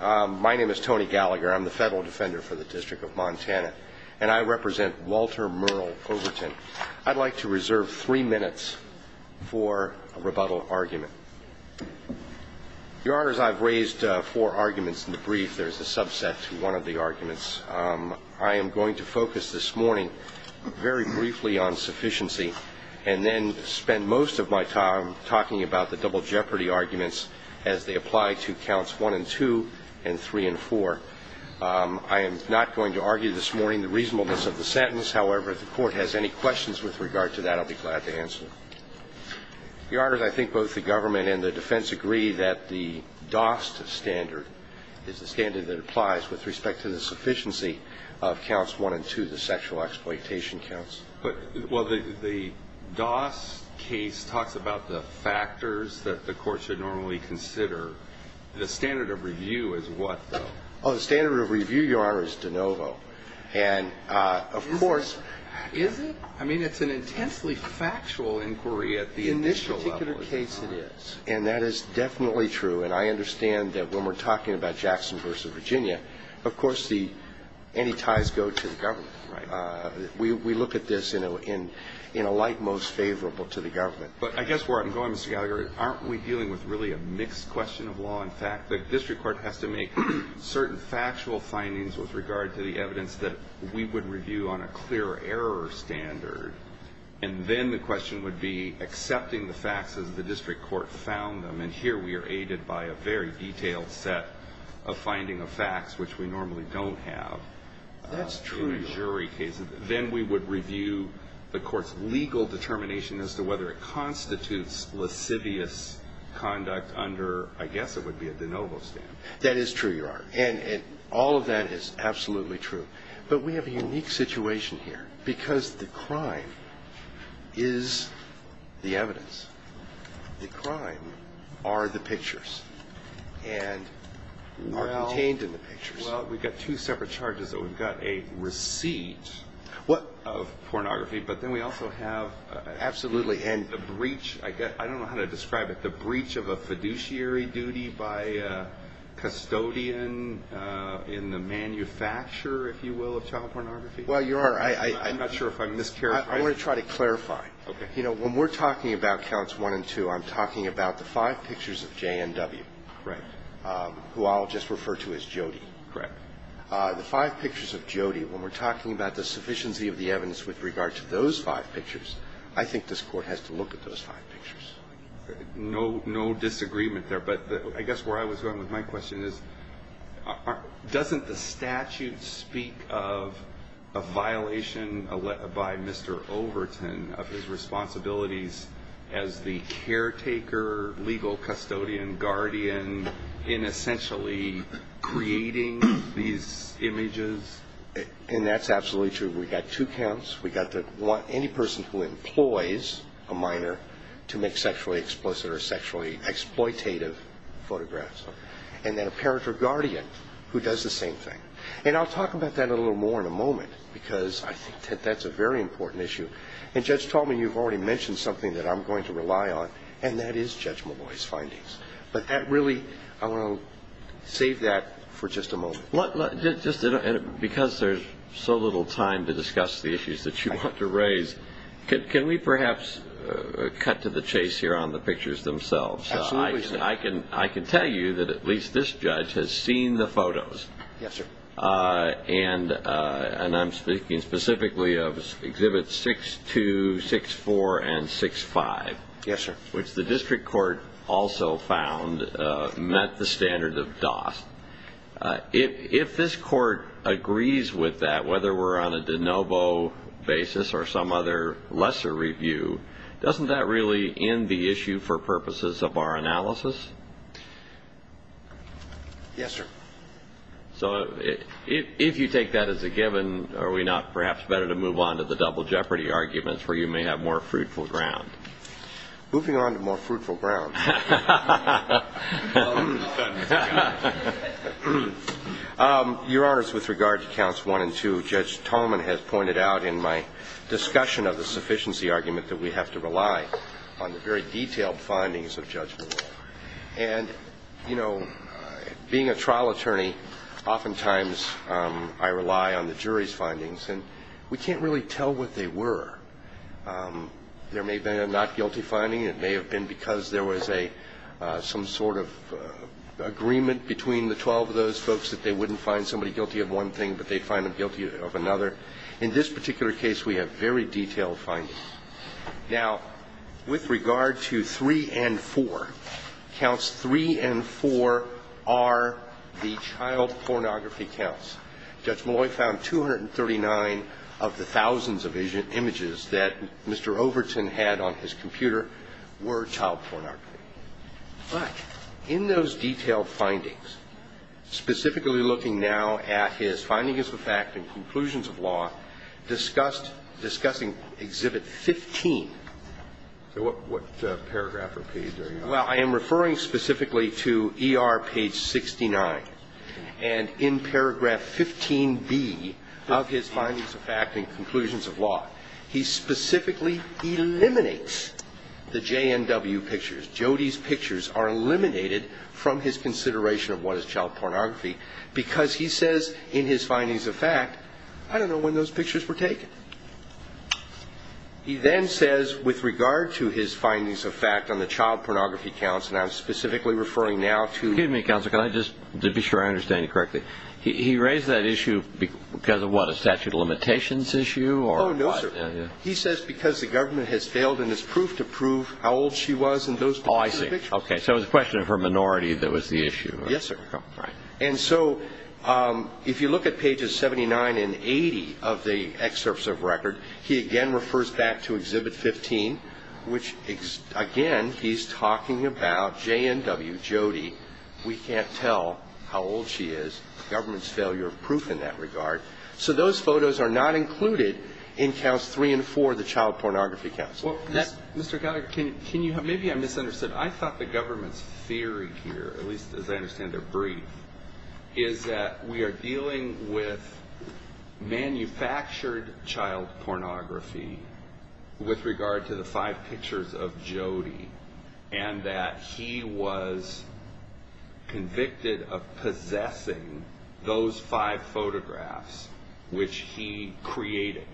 My name is Tony Gallagher. I'm the Federal Defender for the District of Montana, and I represent Walter Merle Overton. I'd like to reserve three minutes for a rebuttal argument. Your Honors, I've raised four arguments in the brief. There's a subset to one of the arguments. I am going to focus this morning very briefly on sufficiency and then spend most of my time talking about the double jeopardy arguments as they apply to Counts 1 and 2 and 3 and 4. I am not going to argue this morning the reasonableness of the sentence. However, if the Court has any questions with regard to that, I'll be glad to answer them. Your Honors, I think both the government and the defense agree that the DOST standard is the standard that applies with respect to the sufficiency of Counts 1 and 2, the sexual exploitation counts. The DOST case talks about the factors that the Court should normally consider. The standard of review is what, though? The standard of review, Your Honor, is de novo. Is it? I mean, it's an intensely factual inquiry at the initial level. In this particular case, it is. And that is definitely true. And I understand that when we're talking about Jackson v. Virginia, of course, any ties go to the government. We look at this in a light most favorable to the government. But I guess where I'm going, Mr. Gallagher, aren't we dealing with really a mixed question of law and fact? The District Court has to make certain factual findings with regard to the evidence that we would review on a clear error standard. And then the question would be accepting the facts as the District Court found them. And here we are aided by a very detailed set of finding of facts, which we normally don't have. That's true, Your Honor. In a jury case. Then we would review the Court's legal determination as to whether it constitutes lascivious conduct under, I guess it would be a de novo standard. That is true, Your Honor. And all of that is absolutely true. But we have a unique situation here because the crime is the evidence. The crime are the pictures and are contained in the pictures. Well, we've got two separate charges. We've got a receipt of pornography, but then we also have the breach. I don't know how to describe it. The breach of a fiduciary duty by a custodian in the manufacturer, if you will, of child pornography. I want to try to clarify. When we're talking about counts one and two, I'm talking about the five pictures of J&W, who I'll just refer to as Jody. The five pictures of Jody, when we're talking about the sufficiency of the evidence with regard to those five pictures, I think this Court has to look at those five pictures. No disagreement there. But I guess where I was going with my question is, doesn't the statute speak of a violation by Mr. Overton of his responsibilities as the caretaker legal custodian, guardian, in essentially creating these images? And that's absolutely true. We've got two counts. We've got any person who employs a minor to make sexually explicit or sexually exploitative photographs. And then a parent or guardian who does the same thing. And I'll talk about that a little more in a moment because I think that's a very important issue. And Judge Tallman, you've already mentioned something that I'm going to rely on, and that is Judge Molloy's findings. But that really – I want to save that for just a moment. Because there's so little time to discuss the issues that you want to raise, can we perhaps cut to the chase here on the pictures themselves? Absolutely. I can tell you that at least this judge has seen the photos. Yes, sir. And I'm speaking specifically of Exhibits 6-2, 6-4, and 6-5, which the district court also found met the standard of DOST. If this court agrees with that, whether we're on a de novo basis or some other lesser review, doesn't that really end the issue for purposes of our analysis? Yes, sir. So if you take that as a given, are we not perhaps better to move on to the Double Jeopardy arguments where you may have more fruitful ground? Moving on to more fruitful ground. Your Honors, with regard to Counts 1 and 2, Judge Tallman has pointed out in my discussion of the sufficiency argument that we have to rely on the very detailed findings of Judge Tallman. As a federal attorney, oftentimes I rely on the jury's findings, and we can't really tell what they were. There may have been a not guilty finding. It may have been because there was some sort of agreement between the 12 of those folks that they wouldn't find somebody guilty of one thing, but they'd find them guilty of another. In this particular case, we have very detailed findings. Now, with regard to 3 and 4, Counts 3 and 4 are the child pornography counts. Judge Malloy found 239 of the thousands of images that Mr. Overton had on his computer were child pornography. But in those detailed findings, specifically looking now at his finding of the fact and conclusions of law, discussing Exhibit 15. So what paragraph or page are you on? Well, I am referring specifically to ER Page 69. And in Paragraph 15b of his findings of fact and conclusions of law, he specifically eliminates the J&W pictures. Jody's pictures are eliminated from his consideration of what is child pornography, because he says in his findings of fact, I don't know when those pictures were taken. He then says, with regard to his findings of fact on the child pornography counts, and I'm specifically referring now to... Excuse me, Counselor, can I just, to be sure I understand you correctly, he raised that issue because of what, a statute of limitations issue or what? Oh, no, sir. He says because the government has failed in its proof to prove how old she was in those pictures. Oh, I see. Okay. So it was a question of her minority that was the issue. Yes, sir. And so, if you look at Pages 79 and 80 of the excerpts of record, he again refers back to Exhibit 15, which again, he's talking about J&W, Jody. We can't tell how old she is. Government's failure of proof in that regard. So those photos are not included in Counts 3 and 4, the Child Pornography Counts. Well, Mr. Geller, can you, maybe I misunderstood. I thought the government's theory here, at least as I understand it, brief, is that we are dealing with manufactured child pornography with regard to the five pictures of Jody, and that he was convicted of possessing those five photographs, which he created.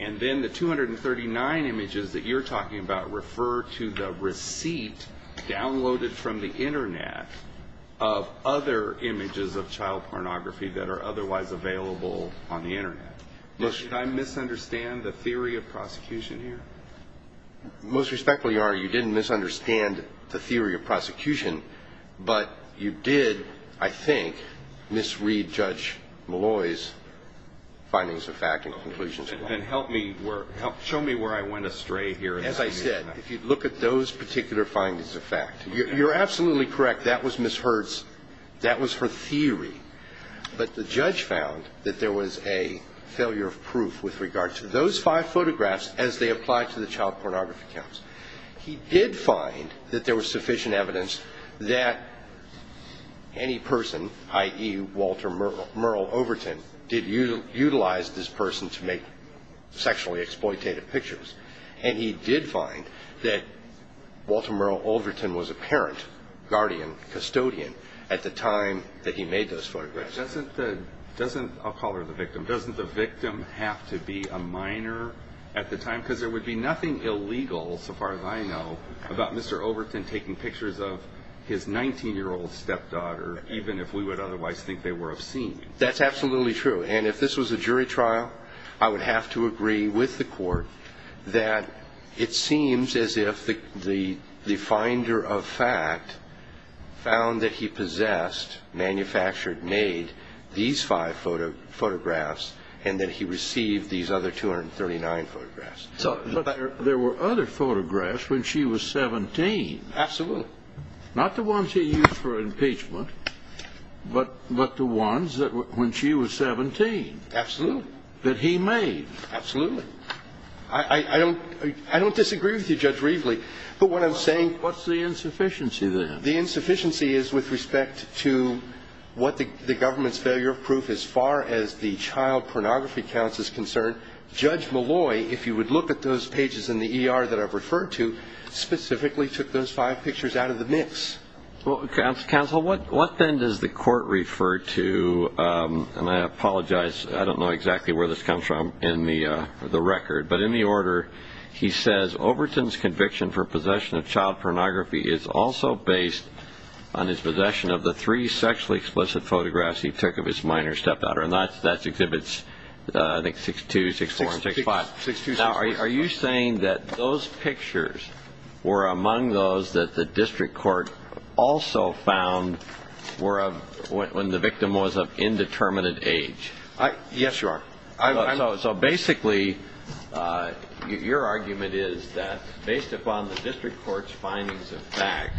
And then the 239 images that you're talking about refer to the receipt downloaded from the Internet of other images of child pornography that are otherwise available on the Internet. Did I misunderstand the theory of prosecution here? Most respectfully, your Honor, you didn't misunderstand the theory of prosecution, but you did, I think, misread Judge Malloy's findings of fact and conclusions. Help me, show me where I went astray here. As I said, if you look at those particular findings of fact, you're absolutely correct, that was Ms. Hertz, that was her theory. But the judge found that there was a failure of proof with regard to those five photographs as they apply to the Child Pornography Counts. He did find that there was sufficient evidence that any person, i.e., Walter Merle Overton, did utilize this person to make sexually exploitative pictures. And he did find that Walter Merle Overton was a parent, guardian, custodian at the time that he made those photographs. Doesn't the, I'll call her the victim, doesn't the victim have to be a minor at the time? Because there would be nothing illegal, so far as I know, about Mr. Overton taking pictures of his 19-year-old stepdaughter, even if we would otherwise think they were obscene. That's absolutely true. And if this was a jury trial, I would have to agree with the court that it seems as if the finder of fact found that he possessed, manufactured, made these five photographs, and that he received these other 239 photographs. There were other photographs when she was 17. Absolutely. Not the ones he used for impeachment, but the ones when she was 17. Absolutely. That he made. Absolutely. I don't disagree with you, Judge Rievele. But what I'm saying What's the insufficiency then? The insufficiency is with respect to what the government's failure of proof as far as the child pornography counts is concerned. Judge Malloy, if you would look at those pages in the ER that I've referred to, specifically took those five pictures out of the mix. Counsel, what then does the court refer to, and I apologize, I don't know exactly where this comes from in the record, but in the order, he says Overton's conviction for possession of child pornography is also based on his possession of the three sexually explicit photographs he took of his minor stepdaughter. And that exhibits, I think, 62, 64, and 65. Now, are you saying that those pictures were among those that the district court also found when the victim was of indeterminate age? Yes, Your Honor. So basically, your argument is that based upon the district court's findings of fact,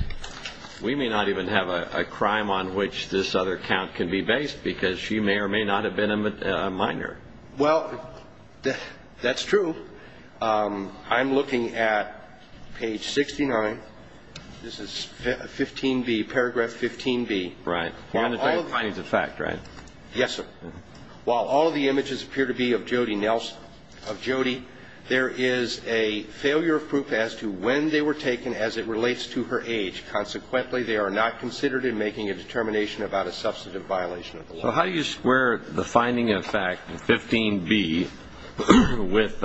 we may not even have a crime on which this other count can be based, because she may or may not have been a minor. Well, that's true. I'm looking at page 69. This is 15b, paragraph 15b. Right. You want to talk about findings of fact, right? Yes, sir. While all of the images appear to be of Jody Nelson, of Jody, there is a failure of proof as to when they were taken as it relates to her age. Consequently, they are not considered in making a determination about a substantive violation of the law. So how do you square the finding of fact, 15b, with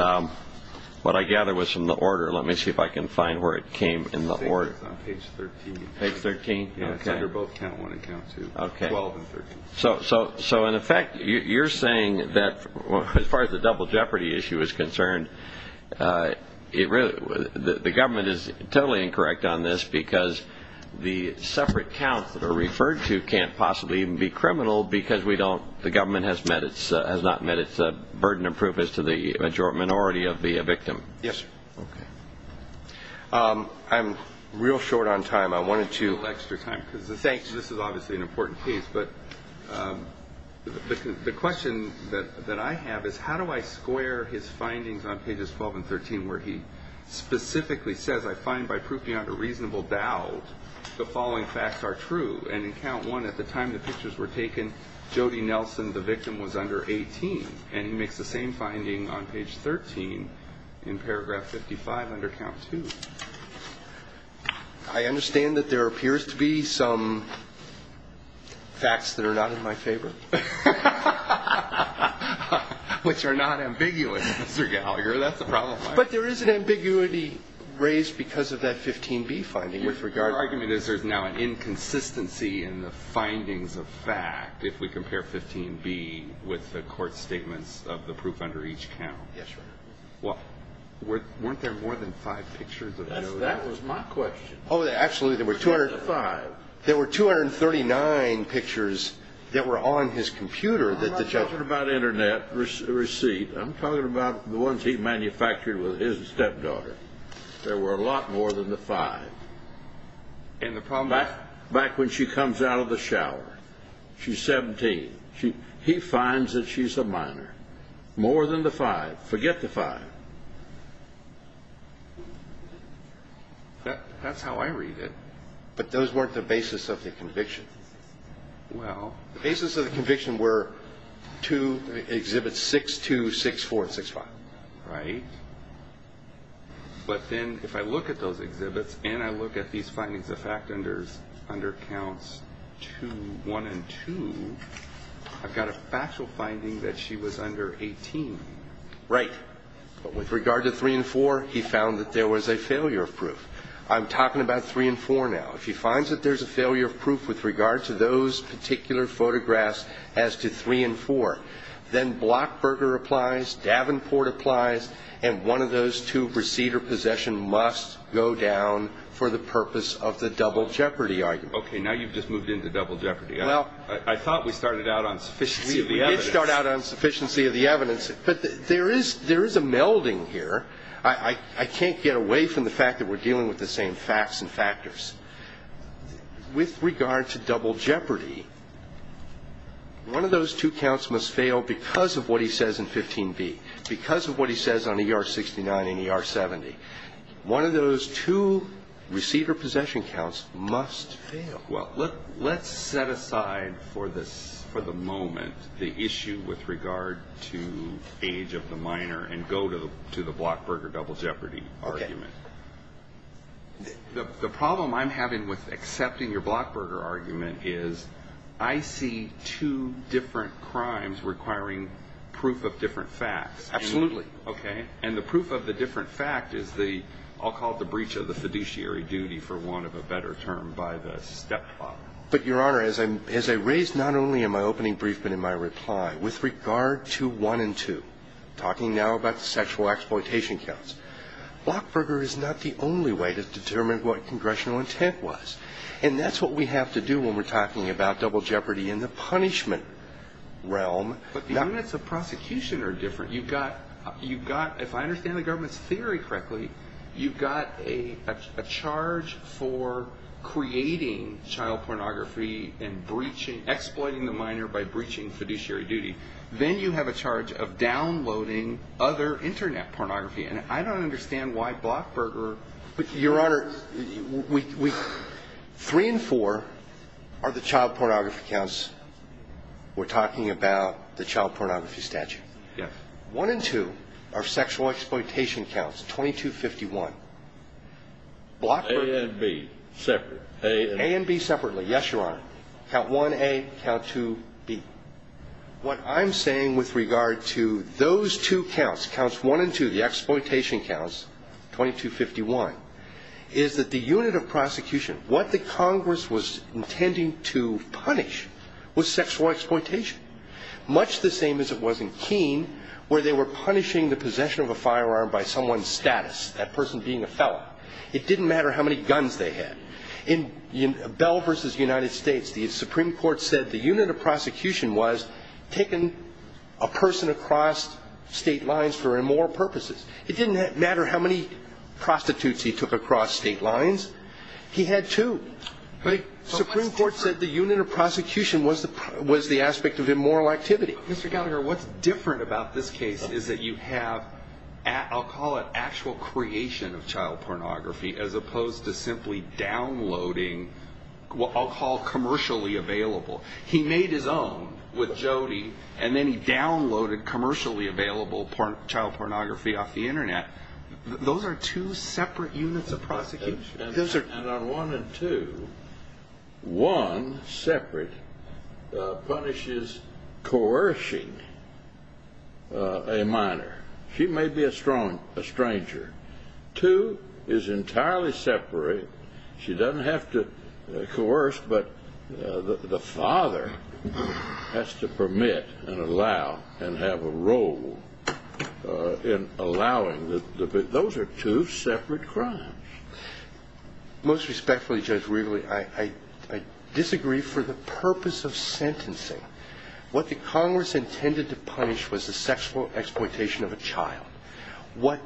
what I gather was from the order? Let me see if I can find where it came in the order. I think it's on page 13. Page 13? Okay. Yeah, it's under both count 1 and count 2. Okay. 12 and 13. So in effect, you're saying that as far as the double jeopardy issue is concerned, the government is totally incorrect on this because the separate counts that are referred to can't possibly even be criminal because the government has not met its burden of proof as to the majority or minority of the victim. Yes, sir. Okay. I'm real short on time. I wanted to... The question that I have is how do I square his findings on pages 12 and 13, where he specifically says, I find by proof beyond a reasonable doubt, the following facts are true. And in count 1, at the time the pictures were taken, Jody Nelson, the victim, was under 18. And he makes the same finding on page 13 in paragraph 55 under count 2. I understand that there appears to be some facts that are not in my favor. Which are not ambiguous, Mr. Gallagher. That's a problem. But there is an ambiguity raised because of that 15B finding with regard... Your argument is there's now an inconsistency in the findings of fact if we compare 15B with the court statements of the proof under each count. Yes, sir. Well, weren't there more than five pictures of Jody Nelson? That was my question. Oh, absolutely. There were 239 pictures that were on his computer that the judge... I'm not talking about internet receipt. I'm talking about the ones he manufactured with his stepdaughter. There were a lot more than the five. And the problem is... Back when she comes out of the shower, she's 17. He finds that she's a minor. More than the five. Forget the five. That's how I read it. But those weren't the basis of the conviction. Well... The basis of the conviction were two exhibits, 6-2, 6-4, and 6-5. Right. But then if I look at those exhibits and I look at these findings of fact under counts 1 and 2, I've got a factual finding that she was under 18. Right. But with regard to 3 and 4, he found that there was a failure of proof. I'm talking about 3 and 4 now. If he finds that there's a failure of proof with regard to those particular photographs as to 3 and 4, then Blockberger applies, Davenport applies, and one of those two receipt or possession must go down for the purpose of the double jeopardy argument. Okay, now you've just moved into double jeopardy. I thought we started out on sufficiency of the evidence. We did start out on sufficiency of the evidence. But there is a melding here. I can't get away from the fact that we're dealing with the same facts and factors. With regard to double jeopardy, one of those two counts must fail because of what he says in 15b, because of what he says on ER69 and ER70. One of those two receipt or possession counts must fail. Well, let's set aside for the moment the issue with regard to age of the minor and go to the Blockberger double jeopardy argument. Okay. The problem I'm having with accepting your Blockberger argument is I see two different crimes requiring proof of different facts. Absolutely. Okay. And the proof of the different fact is the, I'll call it the breach of the fiduciary duty, for want of a better term, by the stepfather. But, Your Honor, as I raised not only in my opening brief, but in my reply, with regard to 1 and 2, talking now about the sexual exploitation counts, Blockberger is not the only way to determine what congressional intent was. And that's what we have to do when we're talking about double jeopardy in the punishment realm. But the units of prosecution are different. You've got, if I understand the government's theory correctly, you've got a charge for creating child pornography and exploiting the minor by breaching fiduciary duty. Then you have a charge of downloading other internet pornography. And I don't understand why Blockberger... But, Your Honor, 3 and 4 are the child pornography counts. We're talking about the child pornography statute. Yes. 1 and 2 are sexual exploitation counts, 2251. A and B, separate. A and B separately. Yes, Your Honor. Count 1A, count 2B. What I'm saying with regard to those two counts, counts 1 and 2, the exploitation counts, 2251, is that the unit of prosecution, what the Congress was intending to punish, was sexual exploitation. Much the same as it was in Keene, where they were punishing the possession of a firearm by someone's status, that person being a fellow. It didn't matter how many guns they had. In Bell v. United States, the Supreme Court said the unit of prosecution was taking a person across state lines for immoral purposes. It didn't matter how many prostitutes he took across state lines. He had two. Supreme Court said the unit of prosecution was the aspect of immoral activity. Mr. Gallagher, what's different about this case is that you have, I'll call it, actual creation of child pornography as opposed to simply downloading what I'll call commercially available. He made his own with Jody, and then he downloaded commercially available child pornography off the Internet. Those are two separate units of prosecution. And on one and two, one separate punishes coercing a minor. She may be a stranger. Two is entirely separate. She doesn't have to coerce, but the father has to permit and allow and have a role in allowing. Those are two separate crimes. Most respectfully, Judge Wrigley, I disagree for the purpose of sentencing. What the Congress intended to punish was the sexual exploitation of a child. What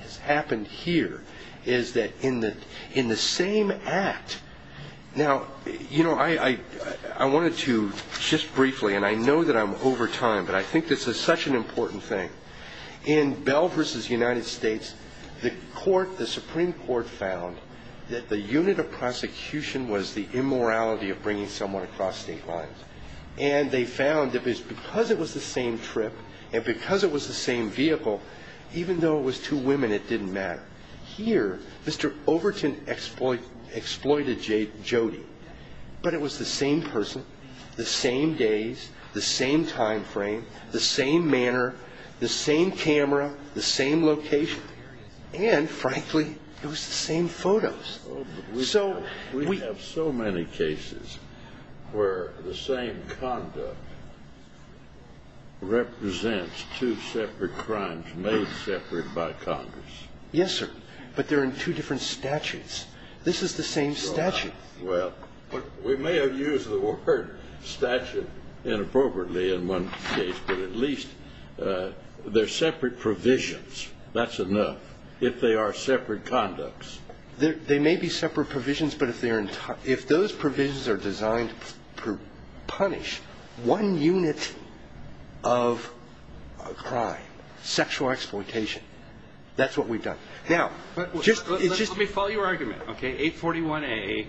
has happened here is that in the same act, now, you know, I wanted to just briefly, and I know that I'm over time, but I think this is such an important thing. In Bell v. United States, the Supreme Court found that the unit of prosecution was the immorality of bringing someone across state lines. And they found that because it was the same trip and because it was the same vehicle, even though it was two women, it didn't matter. Here, Mr. Overton exploited Jody, but it was the same person, the same days, the same time frame, the same manner, the same camera, the same location, and frankly, it was the same photos. We have so many cases where the same conduct represents two separate crimes made separate by Congress. Yes, sir, but they're in two different statutes. This is the same statute. Well, we may have used the word statute inappropriately in one case, but at least they're separate provisions. That's enough if they are separate conducts. They may be separate provisions, but if those provisions are designed to punish one unit of a crime, sexual exploitation, that's what we've done. Now, let me follow your argument, okay? 841A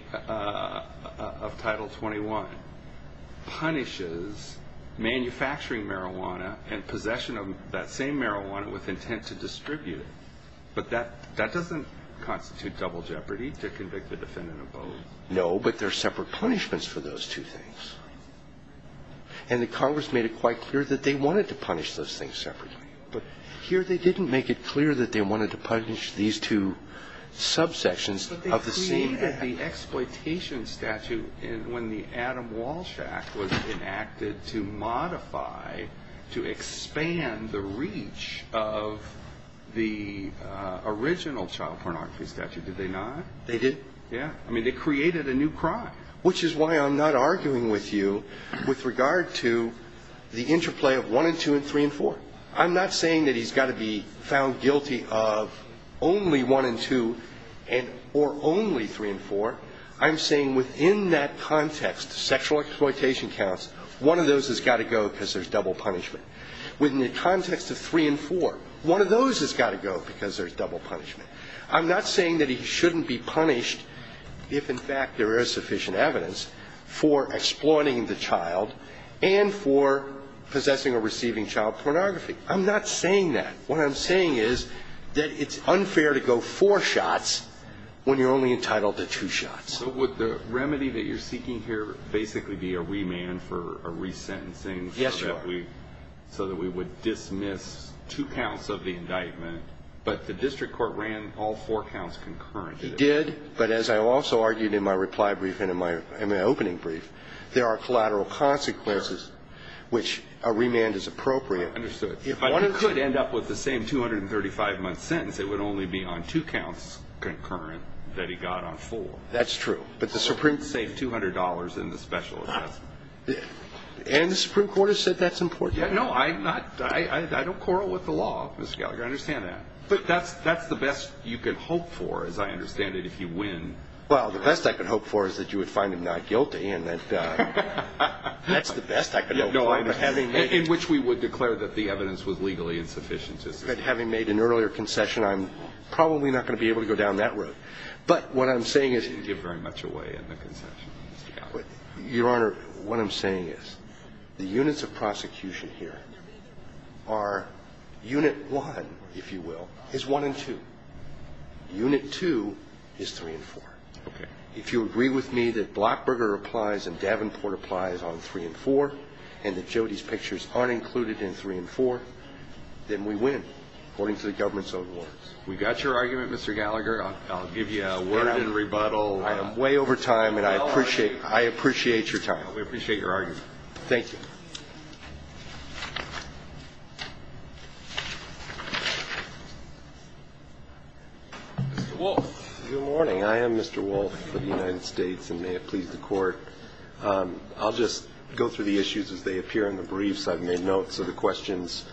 of Title 21 punishes manufacturing marijuana and possession of that same marijuana with intent to distribute it. But that doesn't constitute double jeopardy to convict the defendant of both. No, but there are separate punishments for those two things. And the Congress made it quite clear that they wanted to punish those things separately. But here they didn't make it clear that they wanted to punish these two subsections of the same act. But they created the exploitation statute when the Adam Walsh Act was enacted to modify, to expand the reach of the original child pornography statute, did they not? They did. Yeah. I mean, they created a new crime. Which is why I'm not arguing with you with regard to the interplay of 1 and 2 and 3 and 4. I'm not saying that he's got to be found guilty of only 1 and 2 or only 3 and 4. I'm saying within that context, sexual exploitation counts, one of those has got to go because there's double punishment. Within the context of 3 and 4, one of those has got to go because there's double punishment. I'm not saying that he shouldn't be punished, if in fact there is sufficient evidence, for exploiting the child and for possessing or receiving child pornography. I'm not saying that. What I'm saying is that it's unfair to go four shots when you're only entitled to two shots. So would the remedy that you're seeking here basically be a remand for a resentencing? Yes, Your Honor. So that we would dismiss two counts of the indictment, but the district court ran all four counts concurrently. It did, but as I also argued in my reply brief and in my opening brief, there are collateral consequences, which a remand is appropriate. Understood. If I could end up with the same 235-month sentence, it would only be on two counts concurrent that he got on four. That's true. Or save $200 in the special assessment. And the Supreme Court has said that's important. No, I don't quarrel with the law, Mr. Gallagher. I understand that. But that's the best you can hope for, as I understand it, if you win. Well, the best I can hope for is that you would find him not guilty. That's the best I can hope for. In which we would declare that the evidence was legally insufficient. Having made an earlier concession, I'm probably not going to be able to go down that road. But what I'm saying is... You didn't give very much away in the concession, Mr. Gallagher. Your Honor, what I'm saying is the units of prosecution here are Unit 1, if you will, is 1 and 2. Unit 2 is 3 and 4. Okay. If you agree with me that Blackburger applies and Davenport applies on 3 and 4, and that Jody's pictures aren't included in 3 and 4, then we win, according to the government's own words. We got your argument, Mr. Gallagher. I'll give you a word in rebuttal. I am way over time, and I appreciate your time. We appreciate your argument. Thank you. Thank you. Mr. Wolff. Good morning. I am Mr. Wolff of the United States, and may it please the Court, I'll just go through the issues as they appear in the briefs. I've made notes of the questions.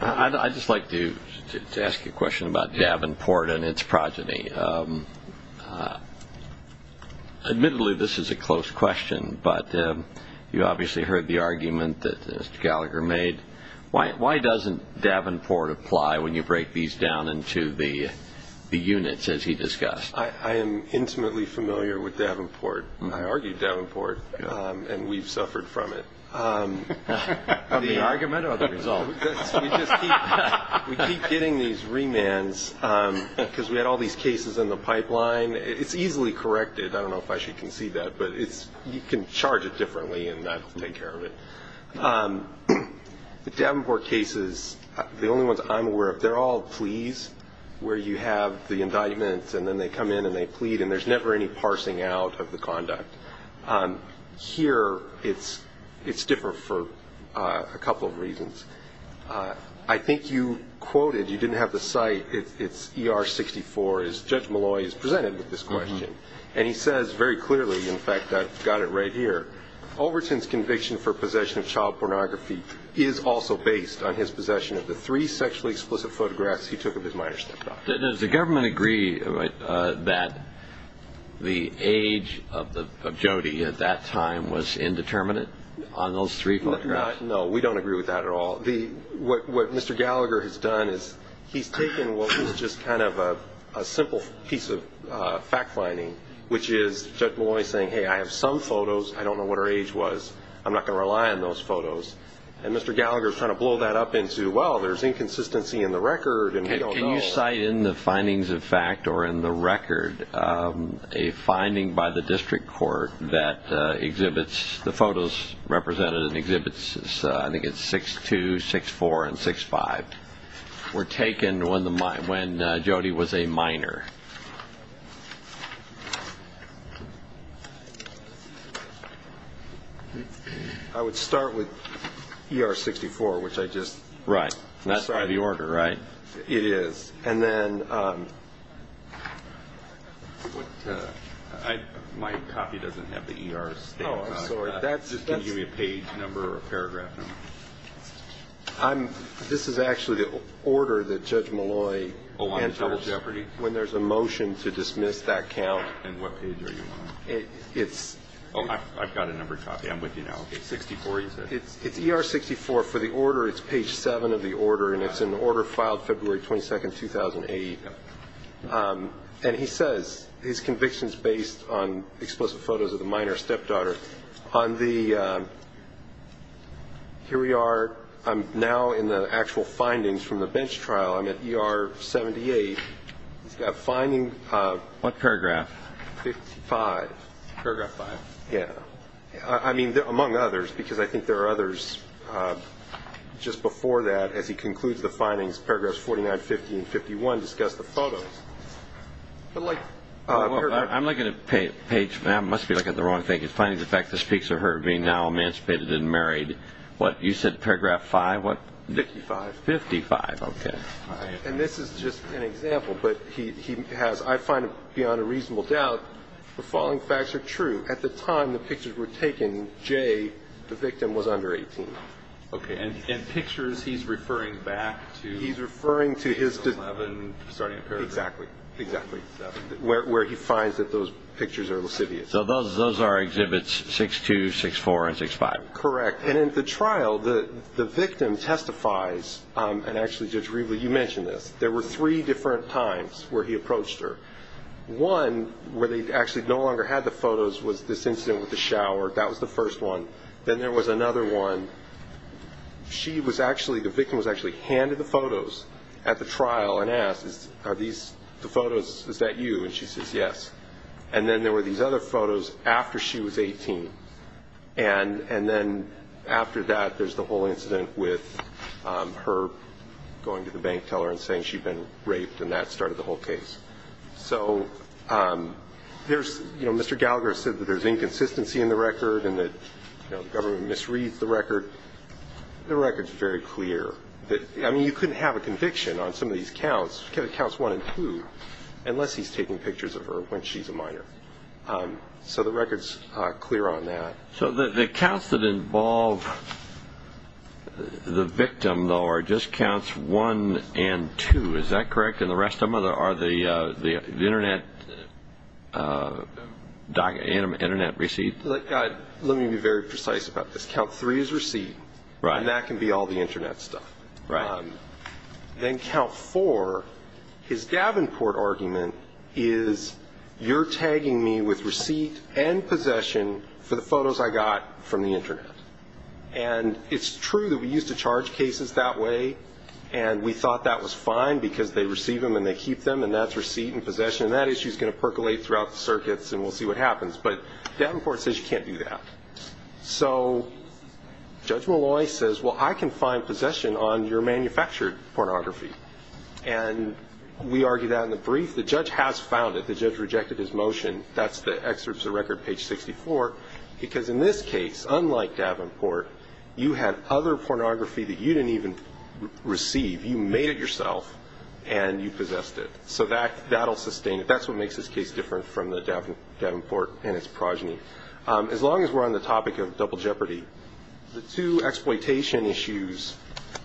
I'd just like to ask you a question about Davenport and its progeny. Admittedly, this is a close question, but you obviously heard the argument that Mr. Gallagher made. Why doesn't Davenport apply when you break these down into the units, as he discussed? I am intimately familiar with Davenport. I argued Davenport, and we've suffered from it. The argument or the result? We keep getting these remands, because we had all these cases in the pipeline. It's easily corrected. I don't know if I should concede that, but you can charge it differently, and that will take care of it. The Davenport cases, the only ones I'm aware of, they're all pleas where you have the indictment, and then they come in and they plead, and there's never any parsing out of the conduct. Here, it's different for a couple of reasons. I think you quoted, you didn't have the cite, it's ER-64. Judge Malloy is presented with this question, and he says very clearly, in fact, I've got it right here, Overton's conviction for possession of child pornography is also based on his possession of the three sexually explicit photographs he took of his minor stepdaughter. Does the government agree that the age of Jody at that time was indeterminate on those three photographs? No, we don't agree with that at all. What Mr. Gallagher has done is he's taken what was just kind of a simple piece of fact-finding, which is Judge Malloy saying, hey, I have some photos, I don't know what her age was, I'm not going to rely on those photos. And Mr. Gallagher's trying to blow that up into, well, there's inconsistency in the record, and we don't know. Can you cite in the findings of fact or in the record a finding by the district court that exhibits the photos represented and exhibits, I think it's 6-2, 6-4, and 6-5, were taken when Jody was a minor? I would start with ER-64, which I just cited. Right, that's by the order, right? It is. My copy doesn't have the ER stamp on it. Oh, I'm sorry. Just give me a page number or a paragraph number. This is actually the order that Judge Malloy enters when there's a motion to dismiss that count. And what page are you on? It's... Oh, I've got a numbered copy. I'm with you now. 64, you said? It's ER-64. For the order, it's page 7 of the order, and it's an order filed February 22, 2008. And he says his conviction's based on explosive photos of the minor's stepdaughter. On the... Here we are. I'm now in the actual findings from the bench trial. I'm at ER-78. He's got a finding of... What paragraph? 55. Paragraph 5. Yeah. I mean, among others, because I think there are others just before that, as he concludes the findings, paragraphs 49, 50, and 51 discuss the photos. But like... I'm looking at page... I must be looking at the wrong thing. He's finding the fact that speaks of her being now emancipated and married. What, you said paragraph 5? What... 55. 55, okay. And this is just an example, but he has... I find it beyond a reasonable doubt the following facts are true. At the time the pictures were taken, Jay, the victim, was under 18. Okay. And pictures, he's referring back to... He's referring to his... 11, starting at paragraph 7. Exactly. Exactly. 7. Where he finds that those pictures are lascivious. So those are exhibits 6-2, 6-4, and 6-5. Correct. And in the trial, the victim testifies... And actually, Judge Rieble, you mentioned this. There were three different times where he approached her. One, where they actually no longer had the photos, was this incident with the shower. That was the first one. Then there was another one. She was actually... The victim was actually handed the photos at the trial and asked, Are these the photos... Is that you? And she says, Yes. And then there were these other photos after she was 18. And then after that, there's the whole incident with her going to the bank teller and saying she'd been raped, and that started the whole case. So there's... You know, Mr. Gallagher said that there's inconsistency in the record and that the government misreads the record. The record's very clear. I mean, you couldn't have a conviction on some of these counts, counts 1 and 2, unless he's taking pictures of her when she's a minor. So the record's clear on that. So the counts that involve the victim, though, are just counts 1 and 2. Is that correct? And the rest of them are the Internet receipts? Let me be very precise about this. Count 3 is receipt, and that can be all the Internet stuff. Then count 4, his Davenport argument, is you're tagging me with receipt and possession for the photos I got from the Internet. And it's true that we used to charge cases that way, and we thought that was fine because they receive them and they keep them, and that's receipt and possession. And that issue's going to percolate throughout the circuits, and we'll see what happens. But Davenport says you can't do that. So Judge Malloy says, well, I can find possession on your manufactured pornography. And we argued that in the brief. The judge has found it. The judge rejected his motion. That's the excerpts of record, page 64. Because in this case, unlike Davenport, you had other pornography that you didn't even receive. You made it yourself, and you possessed it. So that'll sustain it. That's what makes this case different from Davenport and its progeny. As long as we're on the topic of double jeopardy, the two exploitation issues,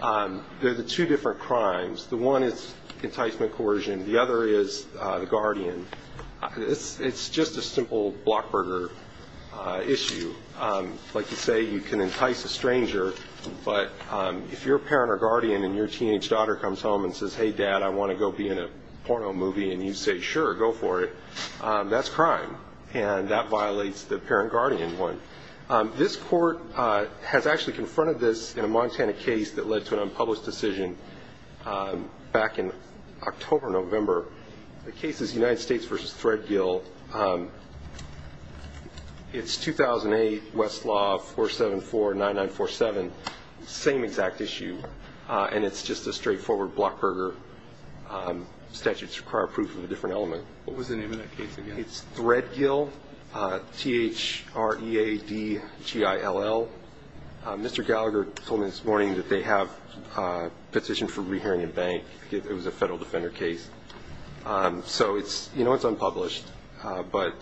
they're the two different crimes. The one is enticement coercion. The other is the Guardian. It's just a simple blockburger issue. Like you say, you can entice a stranger, but if your parent or guardian and your teenage daughter comes home and says, hey, Dad, I want to go be in a porno movie, and you say, sure, go for it, that's crime. And that violates the parent-guardian one. This court has actually confronted this in a Montana case that led to an unpublished decision back in October, November. The case is United States v. Threadgill. It's 2008, Westlaw 4749947, same exact issue, and it's just a straightforward blockburger statute to require proof of a different element. What was the name of that case again? It's Threadgill, T-H-R-E-A-D-G-I-L-L. Mr. Gallagher told me this morning that they have a petition for re-hearing in bank. It was a federal defender case. So you know it's unpublished, but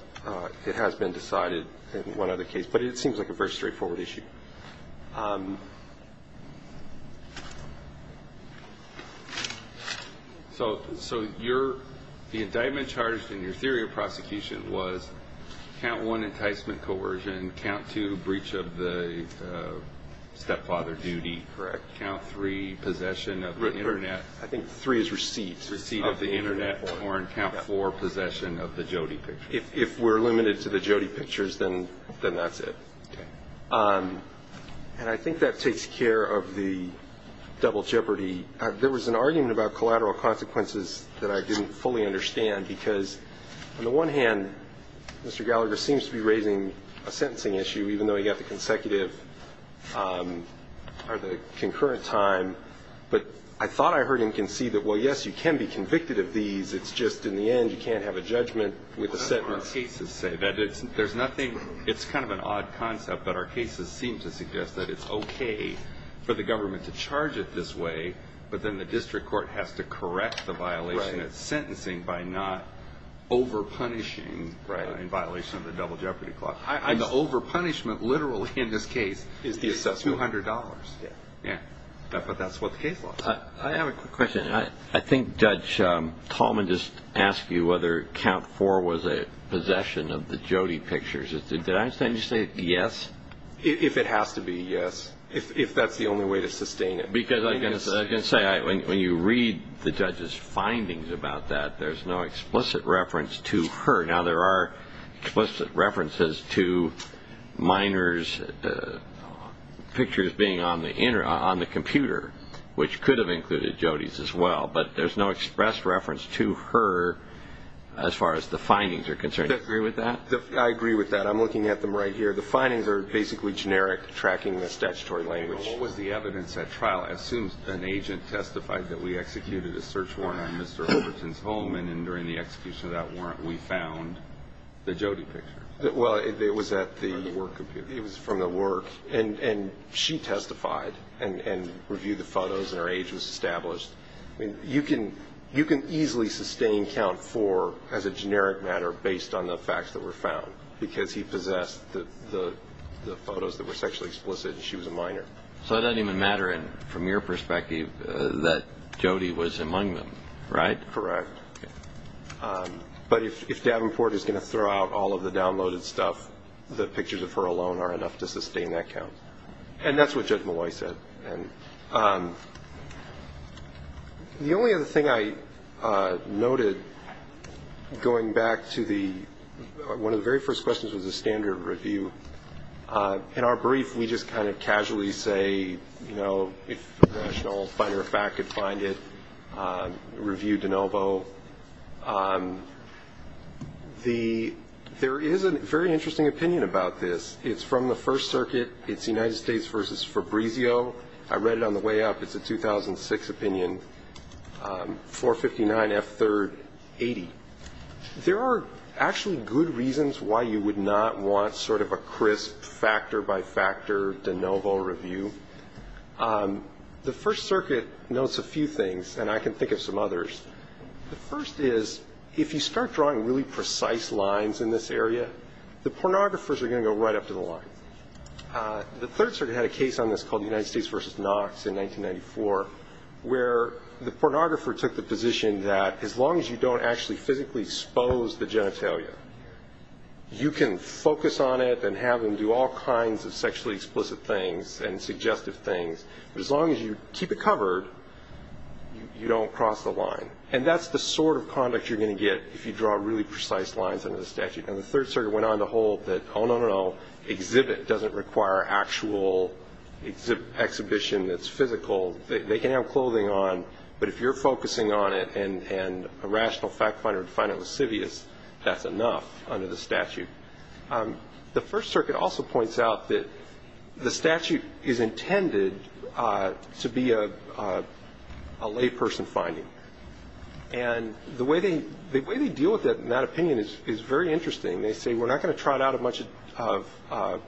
it has been decided in one other case. But it seems like a very straightforward issue. So the indictment charged in your theory of prosecution was count one, enticement coercion, count two, breach of the stepfather duty, count three, possession of the Internet. I think three is receipt. Receipt of the Internet or in count four, possession of the Jody pictures. If we're limited to the Jody pictures, then that's it. And I think that takes care of the double jeopardy. There was an argument about collateral consequences that I didn't fully understand because on the one hand, Mr. Gallagher seems to be raising a sentencing issue even though he got the consecutive or the concurrent time. But I thought I heard him concede that, well, yes, you can be convicted of these, it's just in the end you can't have a judgment with the sentencing. It's kind of an odd concept, but our cases seem to suggest that it's okay for the government to charge it this way, but then the district court has to correct the violation of sentencing by not over-punishing in violation of the double jeopardy clause. And the over-punishment literally in this case is $200. But that's what the case was. I have a quick question. I think Judge Coleman just asked you whether count four was a possession of the Jody pictures. Did I understand you say yes? If it has to be, yes. If that's the only way to sustain it. Because I can say when you read the judge's findings about that, there's no explicit reference to her. Now, there are explicit references to minors' pictures being on the computer, which could have included Jody's as well, but there's no express reference to her as far as the findings are concerned. Do you agree with that? I agree with that. I'm looking at them right here. The findings are basically generic, tracking the statutory language. What was the evidence at trial? I assume an agent testified that we executed a search warrant on Mr. Overton's home, and during the execution of that warrant we found the Jody pictures. It was from the work, and she testified and reviewed the photos, and her age was established. You can easily sustain count four as a generic matter based on the facts that were found, because he possessed the photos that were sexually explicit and she was a minor. So it doesn't even matter from your perspective that Jody was among them, right? Correct. But if Davenport is going to throw out all of the downloaded stuff, the pictures of her alone are enough to sustain that count. And that's what Judge Malloy said. The only other thing I noted going back to the one of the very first questions was the standard review. In our brief, we just kind of casually say, you know, if a national finder of fact could find it, review de novo. There is a very interesting opinion about this. It's from the First Circuit. It's United States versus Fabrizio. I read it on the way up. It's a 2006 opinion, 459 F3rd 80. There are actually good reasons why you would not want sort of a crisp factor-by-factor de novo review. The First Circuit notes a few things, and I can think of some others. The first is, if you start drawing really precise lines in this area, the pornographers are going to go right up to the line. The Third Circuit had a case on this called United States versus Knox in 1994, where the pornographer took the position that as long as you don't actually physically expose the genitalia, you can focus on it and have them do all kinds of sexually explicit things and suggestive things. But as long as you keep it covered, you don't cross the line. And that's the sort of conduct you're going to get if you draw really precise lines under the statute. And the Third Circuit went on to hold that, oh, no, no, no. Exhibit doesn't require actual exhibition that's physical. They can have clothing on, but if you're focusing on it and a rational fact-finder would find it lascivious, that's enough under the statute. The First Circuit also points out that the statute is intended to be a layperson finding. And the way they deal with it in that opinion is very interesting. They say, we're not going to trot out a bunch of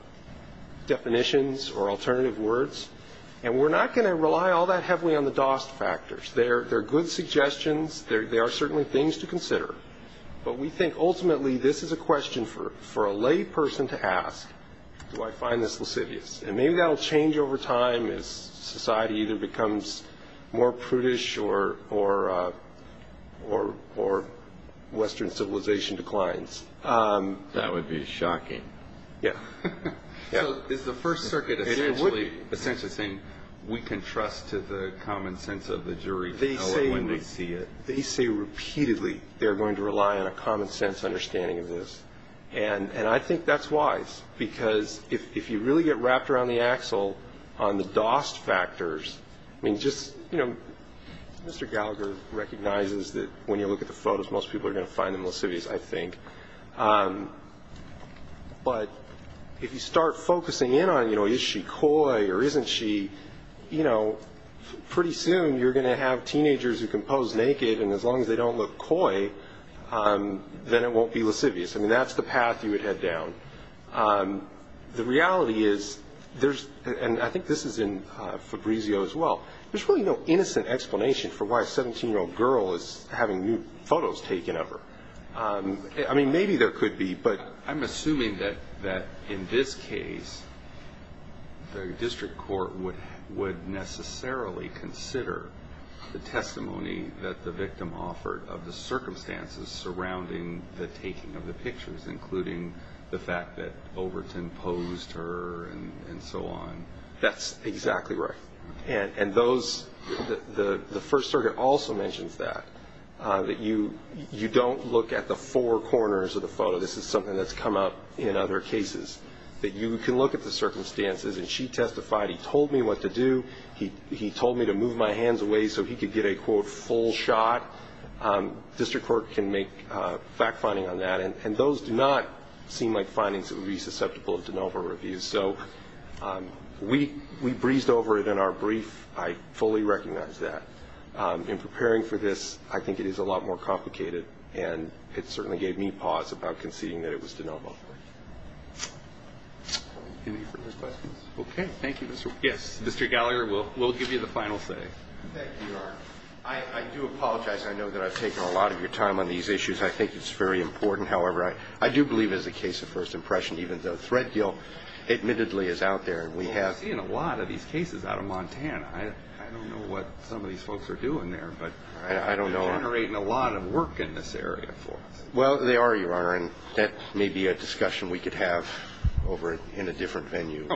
definitions or alternative words, and we're not going to rely all that heavily on the DOST factors. They're good suggestions. They are certainly things to consider. But we think ultimately this is a question for a layperson to ask, do I find this lascivious? And maybe that will change over time as society either becomes more prudish or Western civilization declines. That would be shocking. Yeah. So is the First Circuit essentially saying we can trust to the common sense of the jury when they see it? They say repeatedly they're going to rely on a common sense understanding of this. And I think that's wise, because if you really get wrapped around the axle on the DOST factors, I mean, just, you know, Mr. Gallagher recognizes that when you look at the photos, most people are going to find them lascivious, I think. But if you start focusing in on, you know, is she coy or isn't she, you know, pretty soon you're going to have teenagers who can pose naked, and as long as they don't look coy, then it won't be lascivious. I mean, that's the path you would head down. The reality is there's, and I think this is in Fabrizio as well, there's really no innocent explanation for why a 17-year-old girl is having nude photos taken of her. I mean, maybe there could be, but... I'm assuming that in this case the district court would necessarily consider the testimony that the victim offered of the circumstances surrounding the pictures, including the fact that Overton posed her and so on. That's exactly right. And those, the First Circuit also mentions that, that you don't look at the four corners of the photo. This is something that's come up in other cases, that you can look at the circumstances. And she testified, he told me what to do, he told me to move my hands away so he could get a, quote, full shot. District court can make fact-finding on that. And those do not seem like findings that would be susceptible to de novo reviews. So we breezed over it in our brief. I fully recognize that. In preparing for this, I think it is a lot more complicated, and it certainly gave me pause about conceding that it was de novo. Any further questions? Okay. Thank you. Yes, Mr. Gallagher, we'll give you the final say. Thank you, Your Honor. I do apologize. I know that I've taken a lot of your time on these issues. I think it's very important. However, I do believe it's a case of first impression, even though Threadgill admittedly is out there. We have seen a lot of these cases out of Montana. I don't know what some of these folks are doing there, but they're generating a lot of work in this area for us. Well, they are, Your Honor, and that may be a discussion we could have over in a different venue.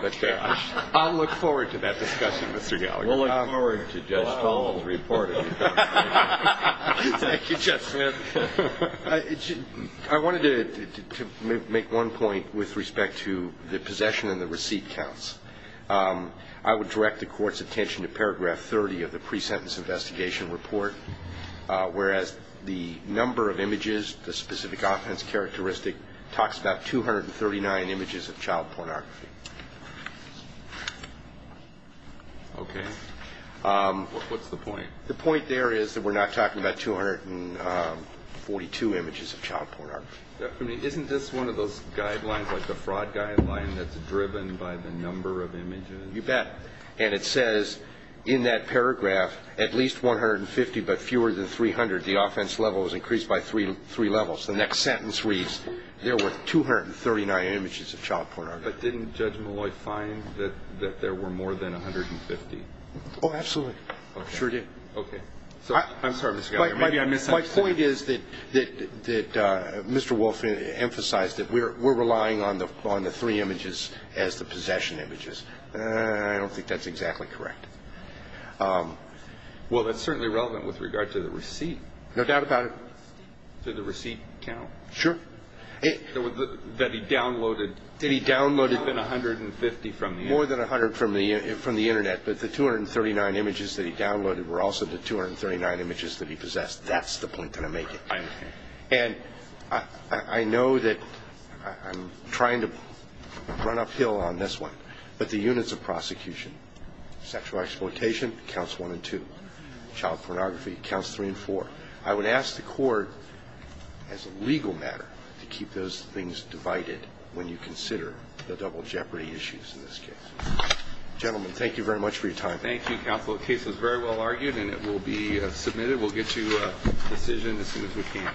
I'll look forward to that discussion, Mr. Gallagher. We'll look forward to Judge Powell's report. Thank you, Judge Smith. I wanted to make one point with respect to the possession and the receipt counts. I would direct the Court's attention to paragraph 30 of the pre-sentence investigation report, whereas the number of images, the specific offense characteristic, talks about 239 images of child pornography. Okay. What's the point? The point there is that we're not talking about 242 images of child pornography. Isn't this one of those guidelines, like the fraud guideline, that's driven by the number of images? You bet. And it says in that paragraph, at least 150, but fewer than 300. The offense level is increased by three levels. The next sentence reads, there were 239 images of child pornography. But didn't Judge Malloy find that there were more than 150? Oh, absolutely. Sure did. Okay. I'm sorry, Mr. Gallagher. My point is that Mr. Wolfe emphasized that we're relying on the three images as the possession images. I don't think that's exactly correct. Well, that's certainly relevant with regard to the receipt. No doubt about it. Did the receipt count? Sure. That he downloaded more than 150 from the Internet. More than 150 from the Internet. But the 239 images that he downloaded were also the 239 images that he possessed. That's the point that I'm making. And I know that I'm trying to run uphill on this one. But the units of prosecution, sexual exploitation counts one and two. Child pornography counts three and four. I would ask the Court, as a legal matter, to keep those things divided when you consider the double jeopardy issues in this case. Gentlemen, thank you very much. Thank you very much for your time. Thank you, Counsel. The case was very well argued, and it will be submitted. We'll get you a decision as soon as we can.